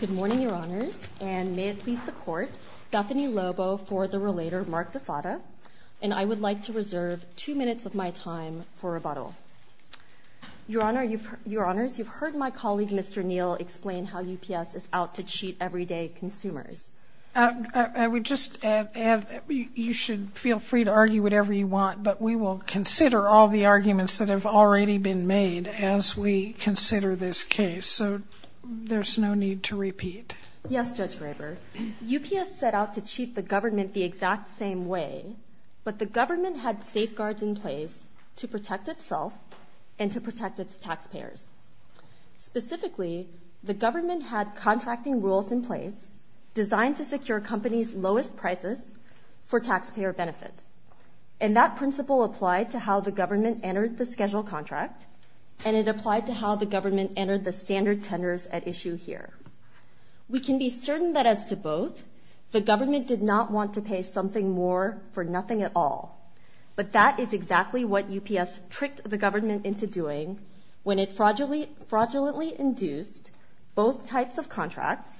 Good morning, Your Honors, and may it please the Court, Bethany Lobo for the relator Mark Defatta, and I would like to reserve two minutes of my time for rebuttal. Your Honors, you've heard my colleague Mr. Neal explain how UPS is out to cheat everyday consumers. I would just add that you should feel free to argue whatever you want, but we will consider all the arguments that have already been made as we consider this case, so there's no need to repeat. Yes, Judge Graber. UPS set out to cheat the government the exact same way, but the government had safeguards in place to protect itself and to protect its taxpayers. Specifically, the government had contracting rules in place designed to secure companies' lowest prices for taxpayer benefits, and that principle applied to how the government entered the schedule contract, and it applied to how the government entered the standard tenders at issue here. We can be certain that as to both, the government did not want to pay something more for nothing at all, but that is exactly what UPS tricked the government into doing when it fraudulently induced both types of contracts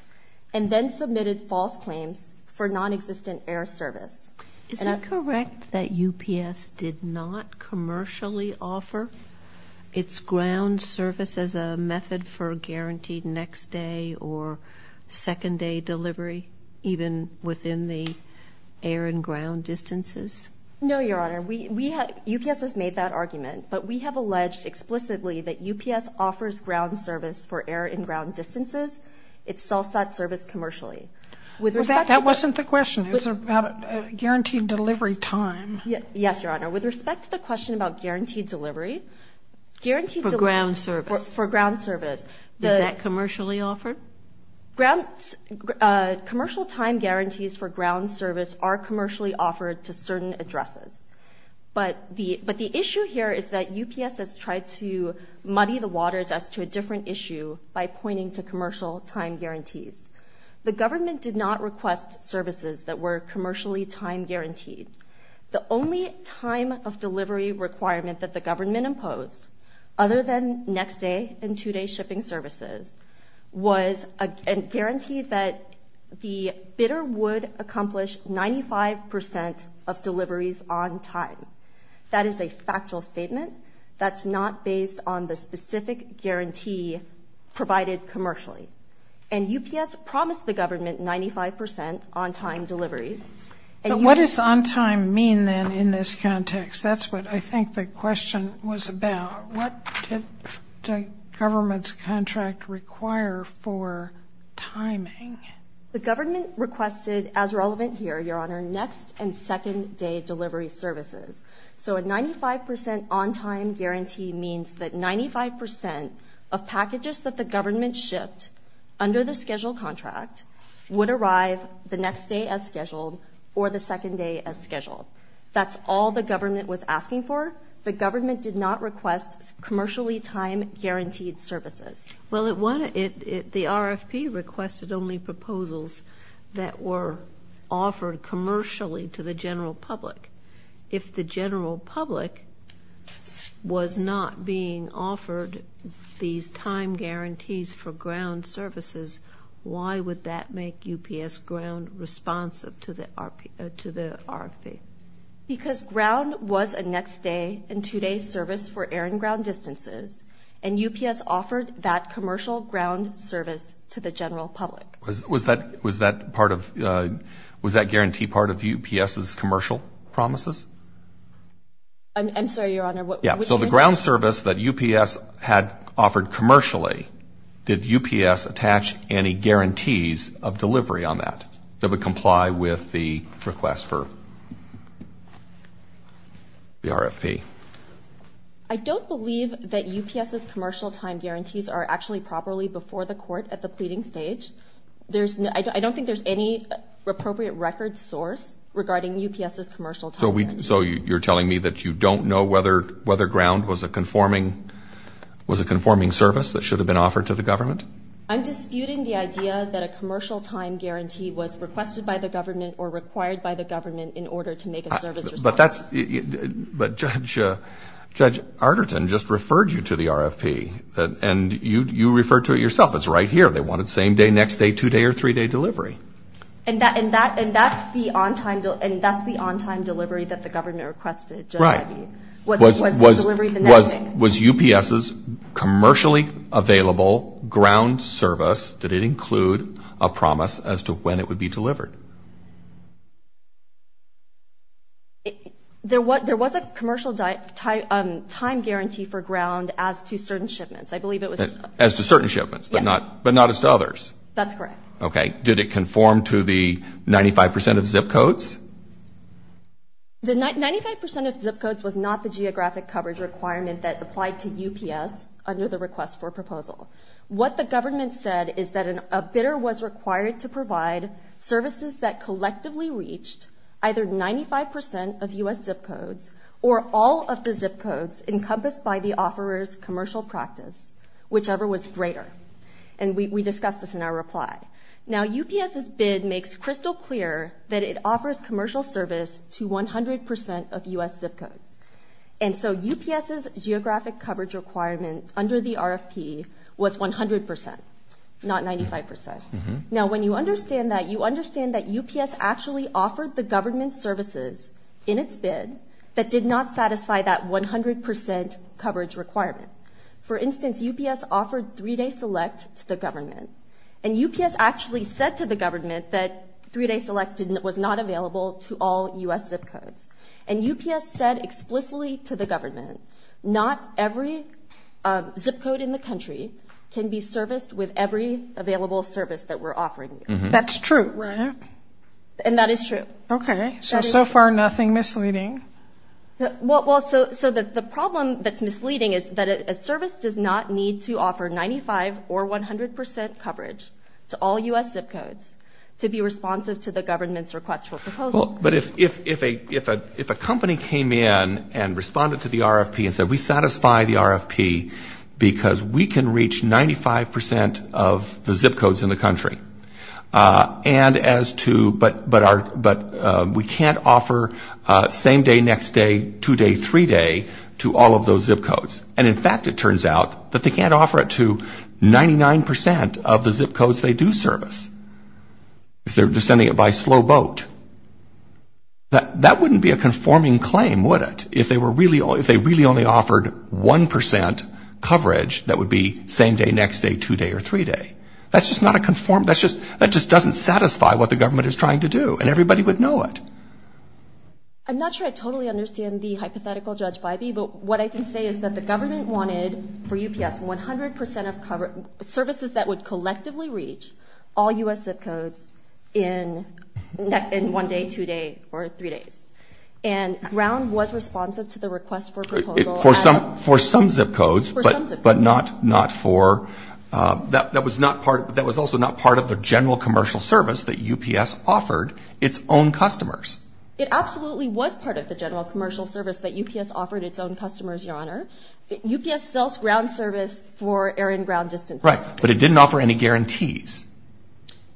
and then submitted false claims for nonexistent air service. Is it correct that UPS did not commercially offer its ground service as a method for guaranteed next day or second day delivery, even within the air and ground distances? No, Your Honor. UPS has made that argument, but we have alleged explicitly that UPS offers ground service for air and ground distances. It sells that service commercially. That wasn't the question. It was about guaranteed delivery time. Yes, Your Honor. With respect to the question about guaranteed delivery, guaranteed delivery for ground service. Is that commercially offered? Commercial time guarantees for ground service are commercially offered to certain addresses, but the issue here is that UPS has tried to The government did not request services that were commercially time guaranteed. The only time of delivery requirement that the government imposed, other than next day and two day shipping services, was a guarantee that the bidder would accomplish 95% of deliveries on time. That is a factual statement. That's not based on the specific guarantee provided commercially. And UPS promised the government 95% on time deliveries. But what does on time mean then in this context? That's what I think the question was about. What did the government's contract require for timing? The government requested, as relevant here, Your Honor, next and second day delivery services. So a 95% on time guarantee means that 95% of packages that the government shipped under the schedule contract would arrive the next day as scheduled or the second day as scheduled. That's all the government was asking for. The government did not request commercially time guaranteed services. Well, the RFP requested only proposals that were offered commercially to the general public was not being offered these time guarantees for ground services. Why would that make UPS ground responsive to the RFP? Because ground was a next day and two day service for air and ground distances and UPS offered that commercial ground service to the general public. Was that was that part of was that guarantee part of UPS's commercial promises? I'm sorry, Your Honor. So the ground service that UPS had offered commercially, did UPS attach any guarantees of delivery on that that would comply with the request for the RFP? I don't believe that UPS's commercial time guarantees are actually properly before the pleading stage. I don't think there's any appropriate record source regarding UPS's commercial time. So you're telling me that you don't know whether ground was a conforming service that should have been offered to the government? I'm disputing the idea that a commercial time guarantee was requested by the government or required by the government in order to make a service response. But Judge Arterton just referred you to the RFP and you referred to it yourself. It's right here. They wanted same day, next day, two day or three day delivery. And that's the on-time delivery that the government requested? Right. Was UPS's commercially available ground service, did it include a promise as to when it would be delivered? There was a commercial time guarantee for ground as to certain shipments. As to certain shipments, but not as to others? That's correct. Okay. Did it conform to the 95% of zip codes? The 95% of zip codes was not the geographic coverage requirement that applied to UPS under the request for proposal. What the government said is that a bidder was required to provide services that collectively reached either 95% of U.S. zip codes, whichever was greater. And we discussed this in our reply. Now UPS's bid makes crystal clear that it offers commercial service to 100% of U.S. zip codes. And so UPS's geographic coverage requirement under the RFP was 100%, not 95%. Now when you understand that, you understand that UPS actually offered the government services in its bid that did not satisfy that 100% coverage requirement. For instance, UPS offered three-day select to the government. And UPS actually said to the government that three-day select was not available to all U.S. zip codes. And UPS said explicitly to the government, not every zip code in the country can be serviced with every available service that we're offering. That's true, right? And that is true. Okay. So, so far nothing misleading. Well, so the problem that's misleading is that a service does not need to offer 95% or 100% coverage to all U.S. zip codes to be responsive to the government's request for proposal. But if a company came in and responded to the RFP and said, we satisfy the RFP because we can reach 95% of the zip codes in the country. And as to, but we can't offer same-day, next-day, two-day, three-day to all of those zip codes. And in fact, it turns out that they can't offer it to 99% of the zip codes they do service. They're sending it by slow boat. That wouldn't be a conforming claim, would it? If they were really, if they really only offered 1% coverage, that would be same-day, next-day, two-day, or three-day. That's just not a conform, that's just, that just doesn't satisfy what the government is trying to do. And everybody would know it. I'm not sure I totally understand the hypothetical Judge Bybee, but what I can say is that the government wanted for UPS 100% of services that would collectively reach all U.S. zip codes in one-day, two-day, or three-days. And Brown was responsive to the request for proposal. For some zip codes, but not for, that was not part, that was also not part of the general commercial service that UPS offered its own customers. It absolutely was part of the general commercial service that UPS offered its own customers, Your Honor. UPS sells ground service for air and ground distances. Right, but it didn't offer any guarantees.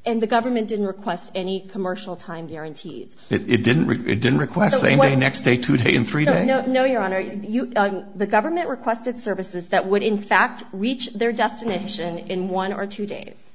And the government didn't request any commercial time guarantees. It didn't request same-day, next-day, two-day, and three-day? No, Your Honor. The government requested services that would in fact reach their destination in one or two days,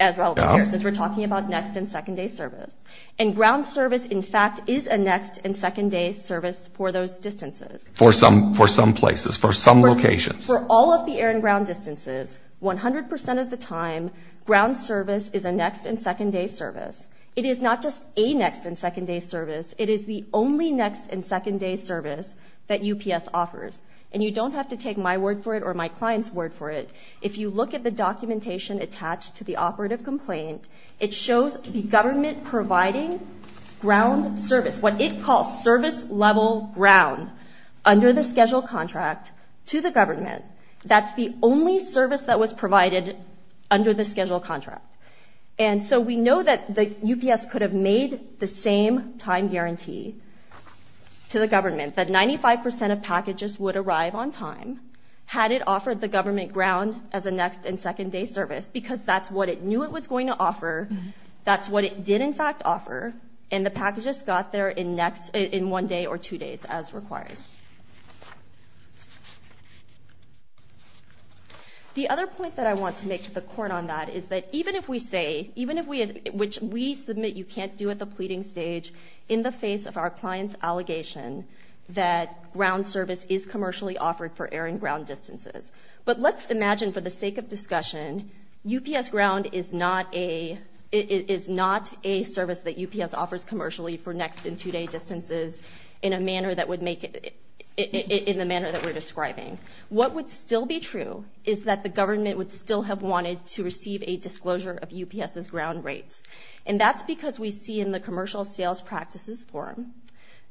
as relevant here, since we're talking about next and second-day service. And ground service, in fact, is a next and second-day service for those distances. For some, for some places, for some locations. For all of the air and ground distances, 100% of the time, ground service is a next and second-day service. It is not just a next and second-day service. It is the only next and second-day service that UPS offers. And you don't have to take my word for it or my client's word for it. If you look at the documentation attached to the operative complaint, it shows the government providing ground service, what it calls service-level ground, under the schedule contract to the government. That's the only service that was provided under the schedule contract. And so we know that the UPS could have made the same time guarantee to the government, that 95% of packages would arrive on time, had it offered the government ground as a next and second-day service, because that's what it knew it was going to offer. That's what it did, in fact, offer. And the packages got there in one day or two days, as required. The other point that I want to make to the court on that is that even if we say, even if we, which we submit you can't do at the pleading stage, in the face of our client's allegation that ground service is commercially offered for air and ground distances. But let's imagine for the sake of discussion, UPS ground is not a service that UPS offers commercially for next and two-day distances in a manner that would make it, in the manner that we're describing. What would still be true is that the government would still have wanted to receive a disclosure of UPS's ground rates. And that's because we see in the Commercial Sales Practices Forum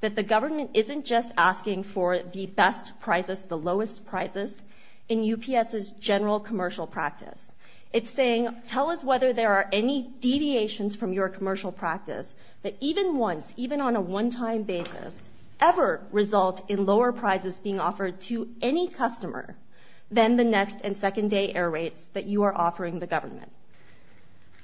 that the government isn't just asking for the best prices, the lowest prices, in UPS's general commercial practice. It's saying, tell us whether there are any deviations from your commercial practice that even once, even on a one-time basis, ever result in lower prizes being offered to any customer than the next and second-day air rates that you are offering the government.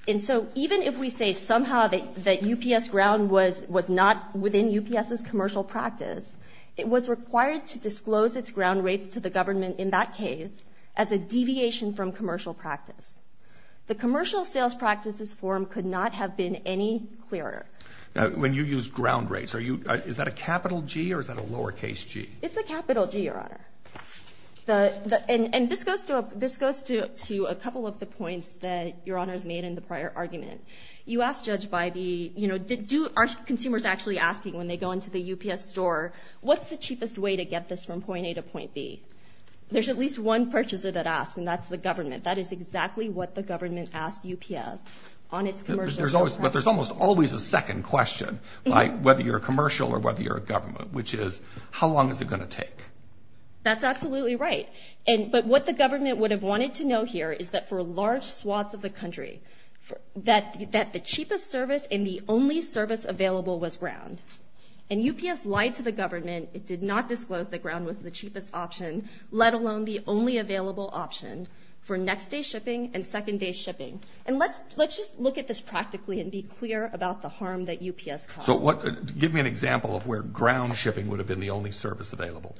And so even if we say somehow that UPS ground was not within UPS's commercial practice, it was required to disclose its ground rates to the government in that case as a deviation from commercial practice. The Commercial Sales Practices Forum could not have been any clearer. When you use ground rates, are you, is that a capital G or is that a lower case G? It's a capital G, Your Honor. And this goes to a couple of the points that Your Honor's made in the prior argument. You asked Judge Bybee, you know, do, are consumers actually asking when they go into the UPS store, what's the cheapest way to get this from point A to point B? There's at least one purchaser that asks, and that's the government. That is exactly what the government asked UPS on its commercial sales practice. But there's almost always a second question, whether you're a commercial or whether you're a government, which is, how long is it going to take? That's absolutely right. And, but what the government would have wanted to know here is that for large swaths of the country, that, that the cheapest service and the only service available was ground. And UPS lied to the government, it did not disclose that ground was the cheapest option, let alone the only available option for next day shipping and second day shipping. And let's, let's just look at this practically and be clear about the harm that UPS caused. So what, give me an example of where ground shipping would have been the only service available.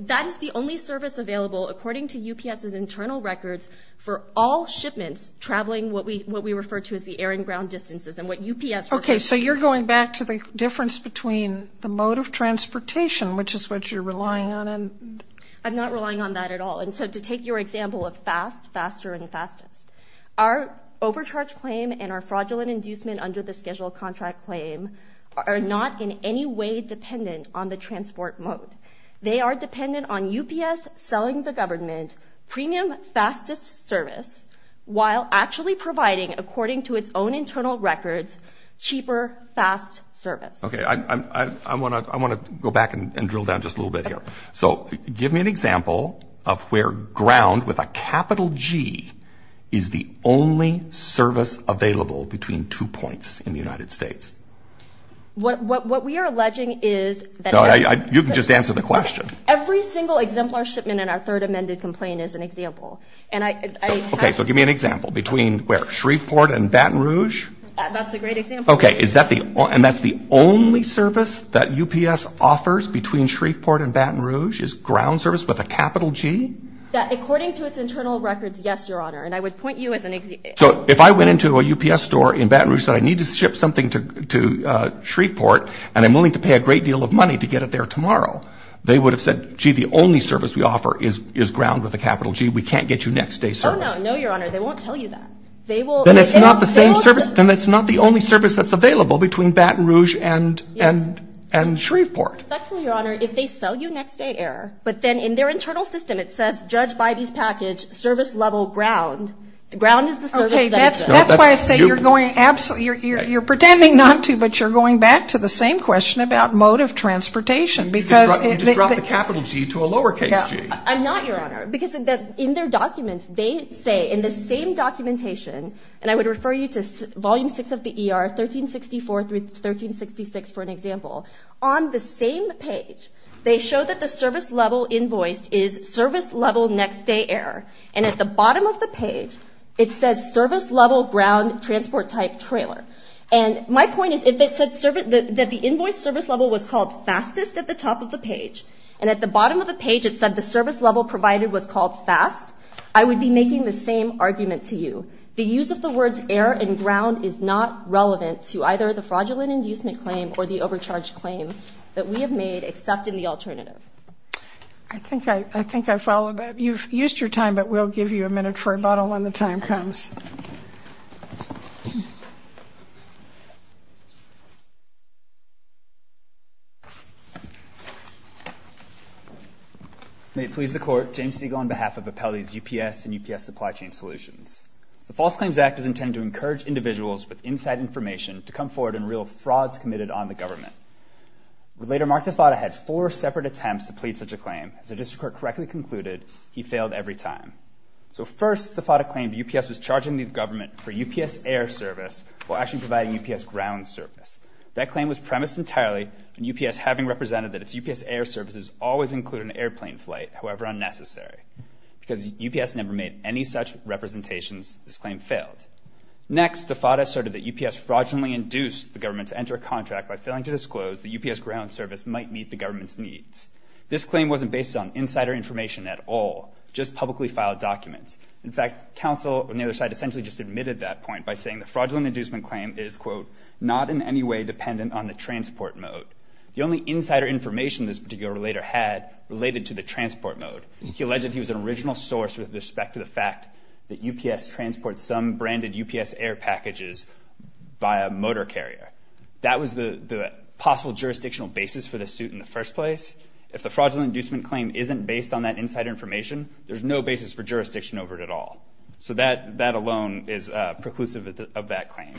That is the only service available, according to UPS's internal records, for all shipments traveling what we, what we refer to as the air and ground distances and what UPS... Okay, so you're going back to the difference between the mode of transportation, which is what you're relying on and... I'm not relying on that at all. And so to take your example of fast, faster and fastest, our overcharge claim and our fraudulent inducement under the schedule contract claim are not in any way dependent on the transport mode. They are dependent on UPS selling the government premium fastest service while actually providing, according to its own internal records, cheaper, fast service. Okay, I want to, I want to go back and drill down just a little bit here. So give me an example of where ground with a capital G is the only service available between two points in the United States. What, what, what we are alleging is that... No, I, I, you can just answer the question. Every single exemplar shipment in our third amended complaint is an example. And I, I... Okay, so give me an example between where Shreveport and Baton Rouge. That's a great example. Okay, is that the, and that's the only service that UPS offers between Shreveport and Baton Rouge is ground service with a capital G? According to its internal records, yes, Your Honor. And I would point you as an... So if I went into a UPS store in Baton Rouge and said I need to ship something to, to Shreveport and I'm willing to pay a great deal of money to get it there tomorrow, they would have said, gee, the only service we offer is, is ground with a capital G. We can't get you next day service. Oh no, no, Your Honor. They won't tell you that. They will... Then it's not the same service. Then it's not the only service that's available between Baton Rouge and, and, and Shreveport. Respectfully, Your Honor, if they sell you next day air, but then in their internal system, it says judge by these package service level ground. The ground is the service that it does. That's why I say you're going absolutely, you're, you're, you're pretending not to, but you're going back to the same question about mode of transportation because... You just dropped the capital G to a lowercase g. I'm not, Your Honor, because in their documents, they say in the same documentation, and I would refer you to volume six of the ER, 1364 through 1366, for an example. On the same page, they show that the service level invoiced is service level next day air. And at the bottom of the page, it says service level ground transport type trailer. And my point is, if it said service, that the invoice service level was called fastest at the top of the page, and at the bottom of the page, it said the service level provided was called fast, I would be making the same argument to you. The use of the words air and ground is not relevant to either the fraudulent inducement claim or the overcharge claim that we have made, except in the alternative. I think I followed that. You've used your time, but we'll give you a minute for rebuttal when the time comes. May it please the Court, James Siegel on behalf of Appellee's UPS and UPS Supply Chain Solutions. The False Claims Act is intended to encourage individuals with inside information to come forward in real frauds committed on the government. Later, Mark DeFatta had four separate attempts to plead such a claim. As the District Court correctly concluded, he failed every time. So first, DeFatta claimed UPS was charging the government for UPS air service while actually providing UPS ground service. That claim was premised entirely on UPS having represented that its UPS air services always include an airplane flight, however unnecessary. Because UPS never made any such representations, this claim failed. Next, DeFatta asserted that UPS fraudulently induced the government to enter a contract by failing to disclose that UPS ground service might meet the government's needs. This claim wasn't based on insider information at all, just publicly filed documents. In fact, counsel on the other side essentially just admitted that point by saying the fraudulent inducement claim is, quote, not in any way dependent on the transport mode. The only insider information this particular relator had related to the transport mode. He alleged he was an original source with respect to the fact that UPS transports some branded UPS air packages by a motor carrier. That was the possible jurisdictional basis for the suit in the first place. If the fraudulent inducement claim isn't based on that insider information, there's no basis for jurisdiction over it at all. So that alone is preclusive of that claim.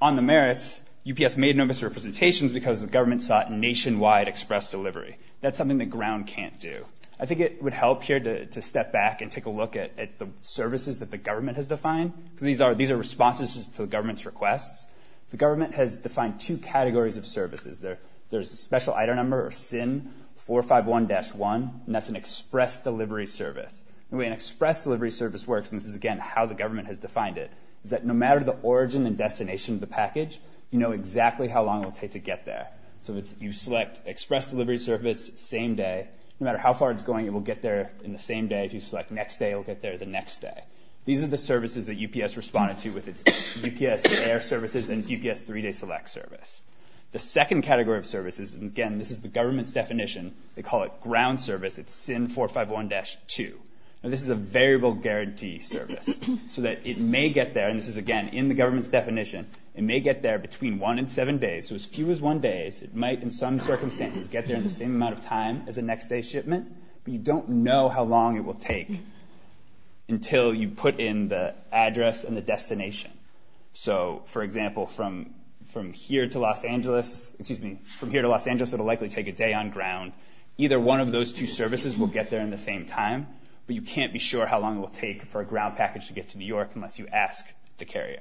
On the merits, UPS made no misrepresentations because the government sought nationwide express delivery. That's something the ground can't do. I think it would help here to step back and take a look at the services that the government has defined, because these are responses to the government's requests. The government has defined two categories of services. There's a special item number of SIN 451-1, and that's an express delivery service. The way an express delivery service works, and this is, again, how the government has defined it, is that no matter the origin and destination of the package, you know exactly how long it will take to get there. So you select express delivery service, same day. No matter how far it's going, it will get there in the same day. If you select next day, it will get there the next day. These are the services that UPS responded to with its UPS air services and its UPS three-day select service. The second category of services, and again, this is the government's definition, they call it ground service. It's SIN 451-2. Now, this is a variable guarantee service, so that it may get there, and this is, again, in the government's definition, it may get there between one and seven days. So as few as one day, it might, in some circumstances, get there in the same amount of time as a shipment, but you don't know how long it will take until you put in the address and the destination. So, for example, from here to Los Angeles, it will likely take a day on ground. Either one of those two services will get there in the same time, but you can't be sure how long it will take for a ground package to get to New York unless you ask the carrier.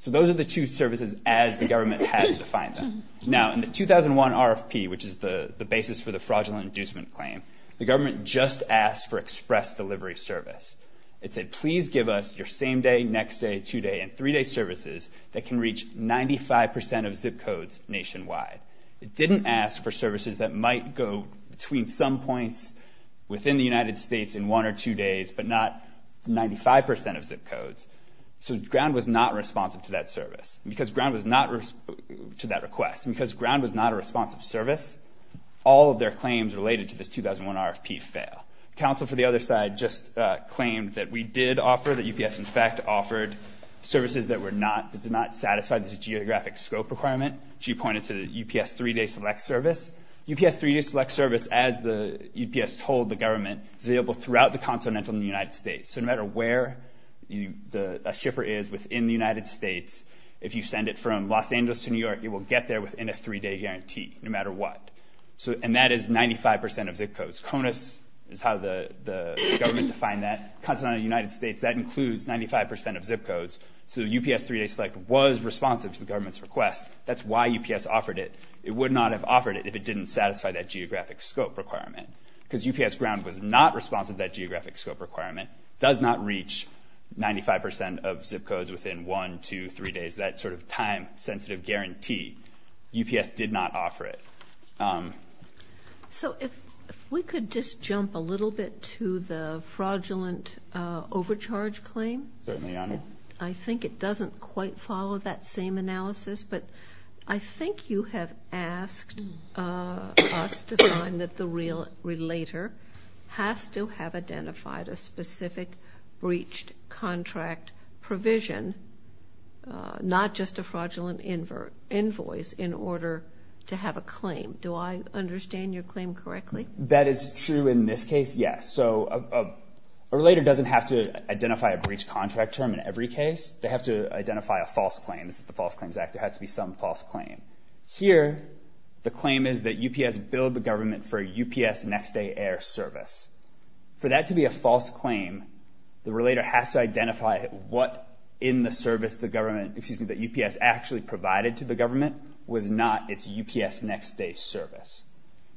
So those are the two services as the government has defined them. Now, in the 2001 RFP, which is the basis for the fraudulent inducement claim, the government just asked for express delivery service. It said, please give us your same-day, next-day, two-day, and three-day services that can reach 95% of zip codes nationwide. It didn't ask for services that might go between some points within the United States in one or two days, but not 95% of zip codes. So ground was not responsive to that request. And because ground was not a responsive service, all of their claims related to this 2001 RFP fail. Council, for the other side, just claimed that we did offer, that UPS, in fact, offered services that did not satisfy this geographic scope requirement. She pointed to the UPS three-day select service. UPS three-day select service, as the UPS told the government, is available throughout the continental United States. So no matter where a shipper is within the United States, if you send it from Los Angeles to New York, it will get there within a three-day guarantee, no matter what. And that is 95% of zip codes. CONUS is how the government defined that, continental United States. That includes 95% of zip codes. So UPS three-day select was responsive to the government's request. That's why UPS offered it. It would not have offered it if it didn't satisfy that geographic scope requirement. Because UPS ground was not responsive to that geographic scope requirement. Does not reach 95% of zip codes within one, two, three days, that sort of time-sensitive guarantee. UPS did not offer it. So if we could just jump a little bit to the fraudulent overcharge claim. Certainly, Your Honor. I think it doesn't quite follow that same analysis. But I think you have asked us to find that the real relater has to have identified a specific breached contract provision, not just a fraudulent invoice, in order to have a claim. Do I understand your claim correctly? That is true in this case, yes. So a relater doesn't have to identify a breached contract term in every case. They have to identify a false claim. This is the False Claims Act. There has to be some false claim. Here, the claim is that UPS billed the government for a UPS next day air service. For that to be a false claim, the relater has to identify what in the service the government, excuse me, that UPS actually provided to the government was not its UPS next day service.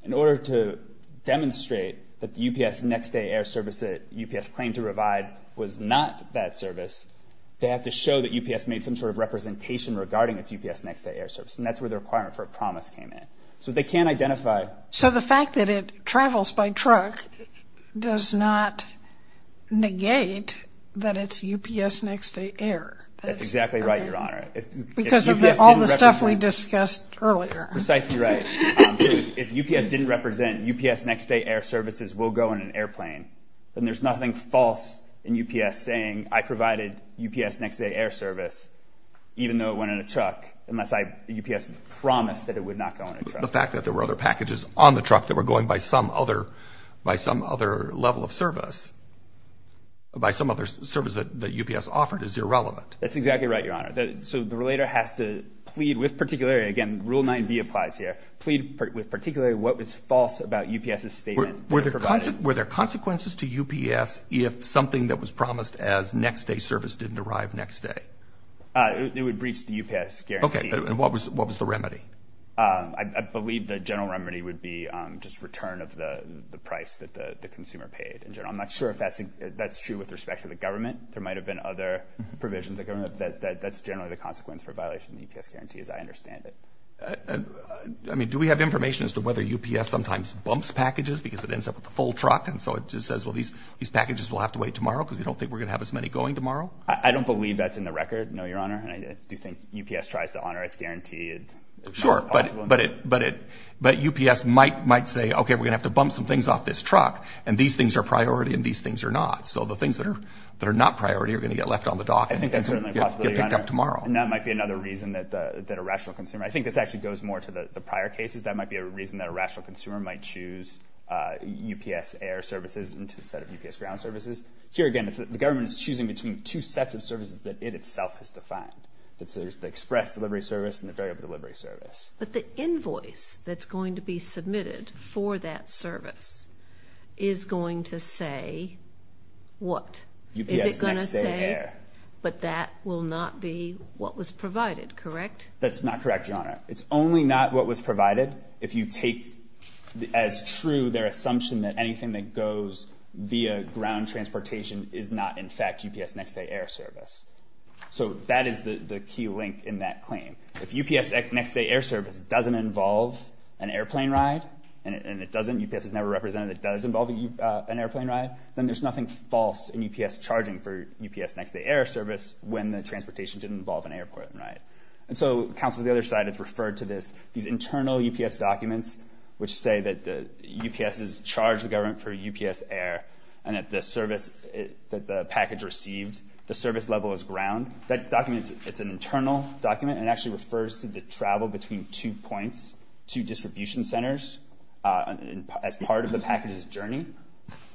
In order to demonstrate that the UPS next day air service that UPS claimed to provide was not that service, they have to show that UPS made some sort of representation regarding its UPS next day air service. And that's where the requirement for a promise came in. So they can't identify... So the fact that it travels by truck does not negate that it's UPS next day air. That's exactly right, Your Honor. Because of all the stuff we discussed earlier. Precisely right. If UPS didn't represent UPS next day air services will go in an airplane, then there's nothing false in UPS saying I provided UPS next day air service, even though it went in a truck, unless UPS promised that it would not go in a truck. The fact that there were other packages on the truck that were going by some other level of service, by some other service that UPS offered is irrelevant. That's exactly right, Your Honor. So the relater has to plead with particular... Again, Rule 9b applies here. Plead with particularly what was false about UPS's statement. Were there consequences to UPS if something that was promised as next day service didn't arrive next day? It would breach the UPS guarantee. Okay. And what was the remedy? I believe the general remedy would be just return of the price that the consumer paid. I'm not sure if that's true with respect to the government. There might have been other provisions of government. That's generally the consequence for violation of UPS guarantees. I understand it. I mean, do we have information as to whether UPS sometimes bumps packages because it ends up with the full truck? And so it just says, well, these packages will have to wait tomorrow because we don't think we're going to have as many going tomorrow? I don't believe that's in the record, no, Your Honor. And I do think UPS tries to honor its guarantee. Sure, but UPS might say, okay, we're going to have to bump some things off this truck and these things are priority and these things are not. So the things that are not priority are going to get left on the dock. I think that's certainly a possibility, Your Honor. And that might be another reason that a rational consumer... I think this actually goes more to the prior cases. That might be a reason that a rational consumer might choose UPS air services into a set of UPS ground services. Here, again, the government is choosing between two sets of services that it itself has defined. There's the express delivery service and the variable delivery service. But the invoice that's going to be submitted for that service is going to say what? UPS next day air. But that will not be what was provided, correct? That's not correct, Your Honor. It's only not what was provided if you take as true their assumption that anything that goes via ground transportation is not, in fact, UPS next day air service. So that is the key link in that claim. If UPS next day air service doesn't involve an airplane ride and it doesn't, UPS is never represented, it does involve an airplane ride, then there's nothing false in UPS charging for UPS next day air service when the transportation didn't involve an airport, right? And so counsel, the other side has referred to this, these internal UPS documents, which say that the UPS has charged the government for UPS air and that the service that the package received, the service level is ground. That document, it's an internal document. It actually refers to the travel between two points, two distribution centers as part of the package's journey.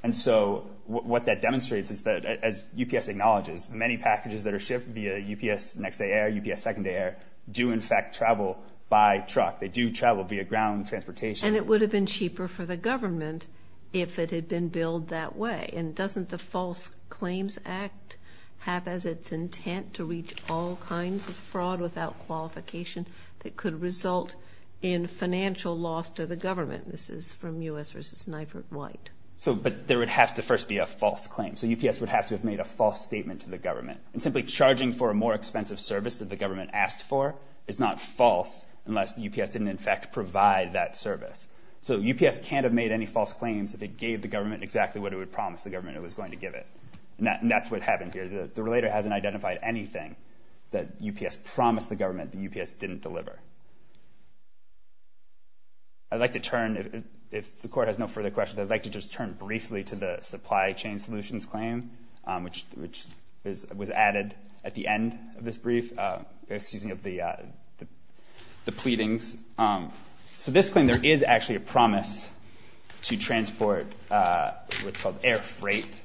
And so what that demonstrates is that, as UPS acknowledges, many packages that are shipped via UPS next day air, UPS second day air, do, in fact, travel by truck. They do travel via ground transportation. And it would have been cheaper for the government if it had been billed that way. And doesn't the False Claims Act have as its intent to reach all kinds of fraud without qualification that could result in financial loss to the government? This is from U.S. versus Nyford White. So, but there would have to first be a false claim. So UPS would have to have made a false statement to the government. And simply charging for a more expensive service that the government asked for is not false unless the UPS didn't, in fact, provide that service. So UPS can't have made any false claims if it gave the government exactly what it would promise the government it was going to give it. And that's what happened here. The relator hasn't identified anything that UPS promised the government that UPS didn't deliver. I'd like to turn, if the court has no further questions, I'd like to just turn briefly to the Supply Chain Solutions claim, which was added at the end of this brief, excuse me, of the pleadings. So this claim, there is actually a promise to transport what's called air freight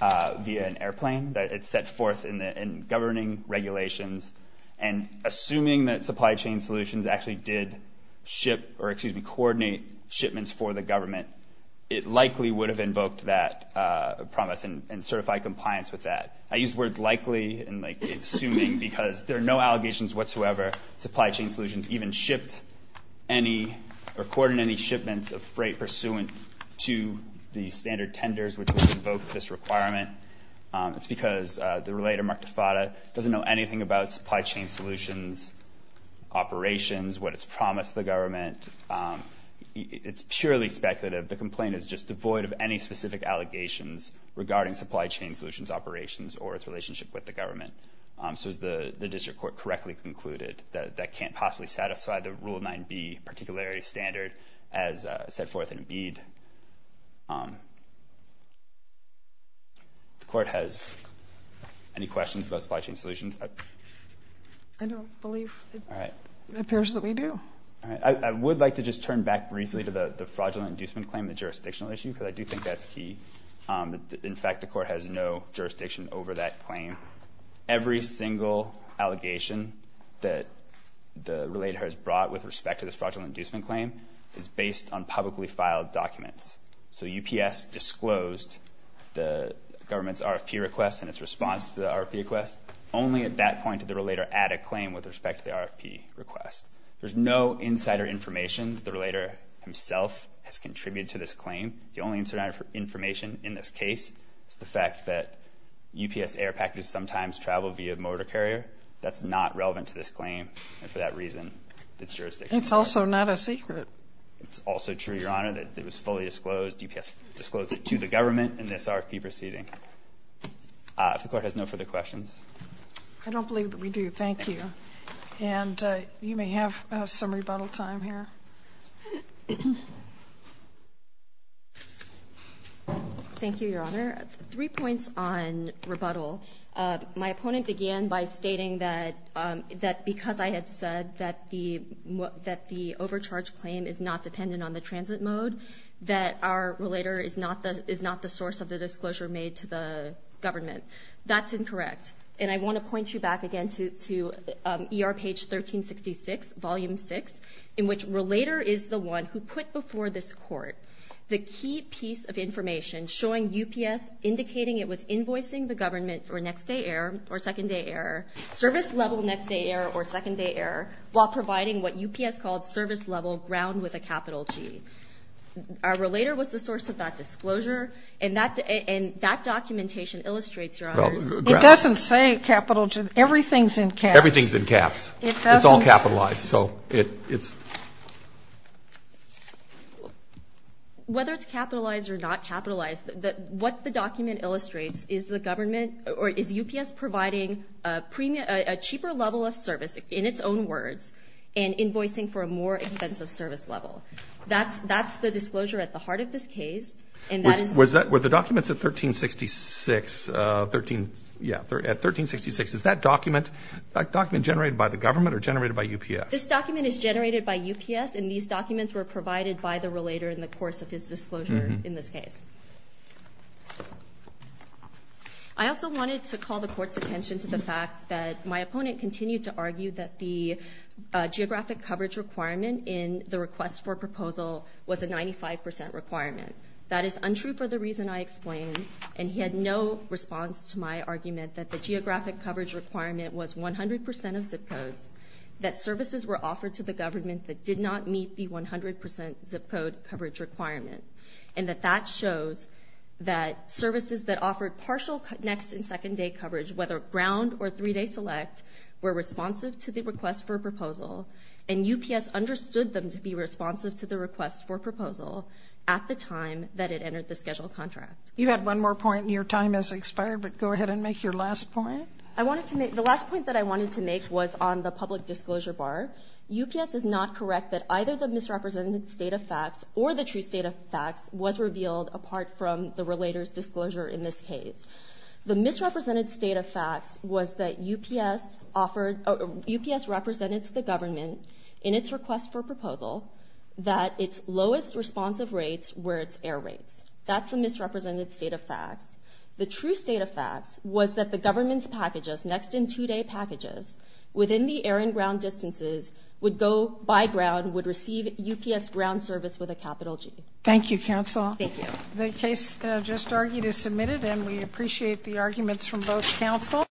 via an airplane that it's set forth in governing regulations. And assuming that Supply Chain Solutions actually did ship, or excuse me, coordinate shipments for the government, it likely would have invoked that promise and certified compliance with that. I use words likely and assuming because there are no allegations whatsoever. Supply Chain Solutions even shipped any or coordinated any shipments of freight pursuant to the standard tenders which would invoke this requirement. It's because the relator, Mark DeFatta, doesn't know anything about Supply Chain Solutions operations, what it's promised the government. It's purely speculative. The complaint is just devoid of any specific allegations regarding Supply Chain Solutions operations or its relationship with the government. So as the district court correctly concluded, that can't possibly satisfy the Rule 9b particularity standard as set forth in a bead. The court has any questions about Supply Chain Solutions? I don't believe it appears that we do. All right. I would like to just turn back briefly to the fraudulent inducement claim, the jurisdictional issue, because I do think that's key. In fact, the court has no jurisdiction over that claim. Every single allegation that the relator has brought with respect to this fraudulent inducement claim is based on publicly filed documents. So UPS disclosed the government's RFP request and its response to the RFP request only at that point did the relator add a claim with respect to the RFP request. There's no insider information. The relator himself has contributed to this claim. The only insider information in this case is the fact that UPS air packages sometimes travel via motor carrier. That's not relevant to this claim, and for that reason, it's jurisdictional. It's also not a secret. It's also true, Your Honor, that it was fully disclosed. UPS disclosed it to the government in this RFP proceeding. If the court has no further questions. I don't believe that we do. Thank you. And you may have some rebuttal time here. Thank you, Your Honor. Three points on rebuttal. My opponent began by stating that because I had said that the overcharge claim is not government, that's incorrect. And I want to point you back again to ER page 1366, volume 6, in which relator is the one who put before this court the key piece of information showing UPS indicating it was invoicing the government for next day error or second day error, service level next day error or second day error, while providing what UPS called service level ground with a capital G. Our relator was the source of that disclosure. And that documentation illustrates, Your Honor. It doesn't say capital G. Everything's in caps. Everything's in caps. It's all capitalized. So it's. Whether it's capitalized or not capitalized, what the document illustrates is the government or is UPS providing a cheaper level of service in its own words and invoicing for a more expensive service level. That's that's the disclosure at the heart of this case. And that is. Was that where the documents at 1366, 13? Yeah. At 1366, is that document a document generated by the government or generated by UPS? This document is generated by UPS. And these documents were provided by the relator in the course of his disclosure in this case. I also wanted to call the court's attention to the fact that my opponent continued to was a 95 percent requirement. That is untrue for the reason I explained. And he had no response to my argument that the geographic coverage requirement was 100 percent of zip codes, that services were offered to the government that did not meet the 100 percent zip code coverage requirement, and that that shows that services that offered partial next and second day coverage, whether ground or three day select, were responsive to the request for a proposal. And UPS understood them to be responsive to the request for proposal at the time that it entered the schedule contract. You had one more point and your time has expired, but go ahead and make your last point. I wanted to make the last point that I wanted to make was on the public disclosure bar. UPS is not correct that either the misrepresented state of facts or the true state of facts was revealed apart from the relator's disclosure in this case. The misrepresented state of facts was that UPS represented to the government in its request for proposal that its lowest responsive rates were its air rates. That's the misrepresented state of facts. The true state of facts was that the government's packages, next and two day packages, within the air and ground distances, would go by ground, would receive UPS ground service with a capital G. Thank you, counsel. Thank you. The case just argued is submitted and we appreciate the arguments from both counsel.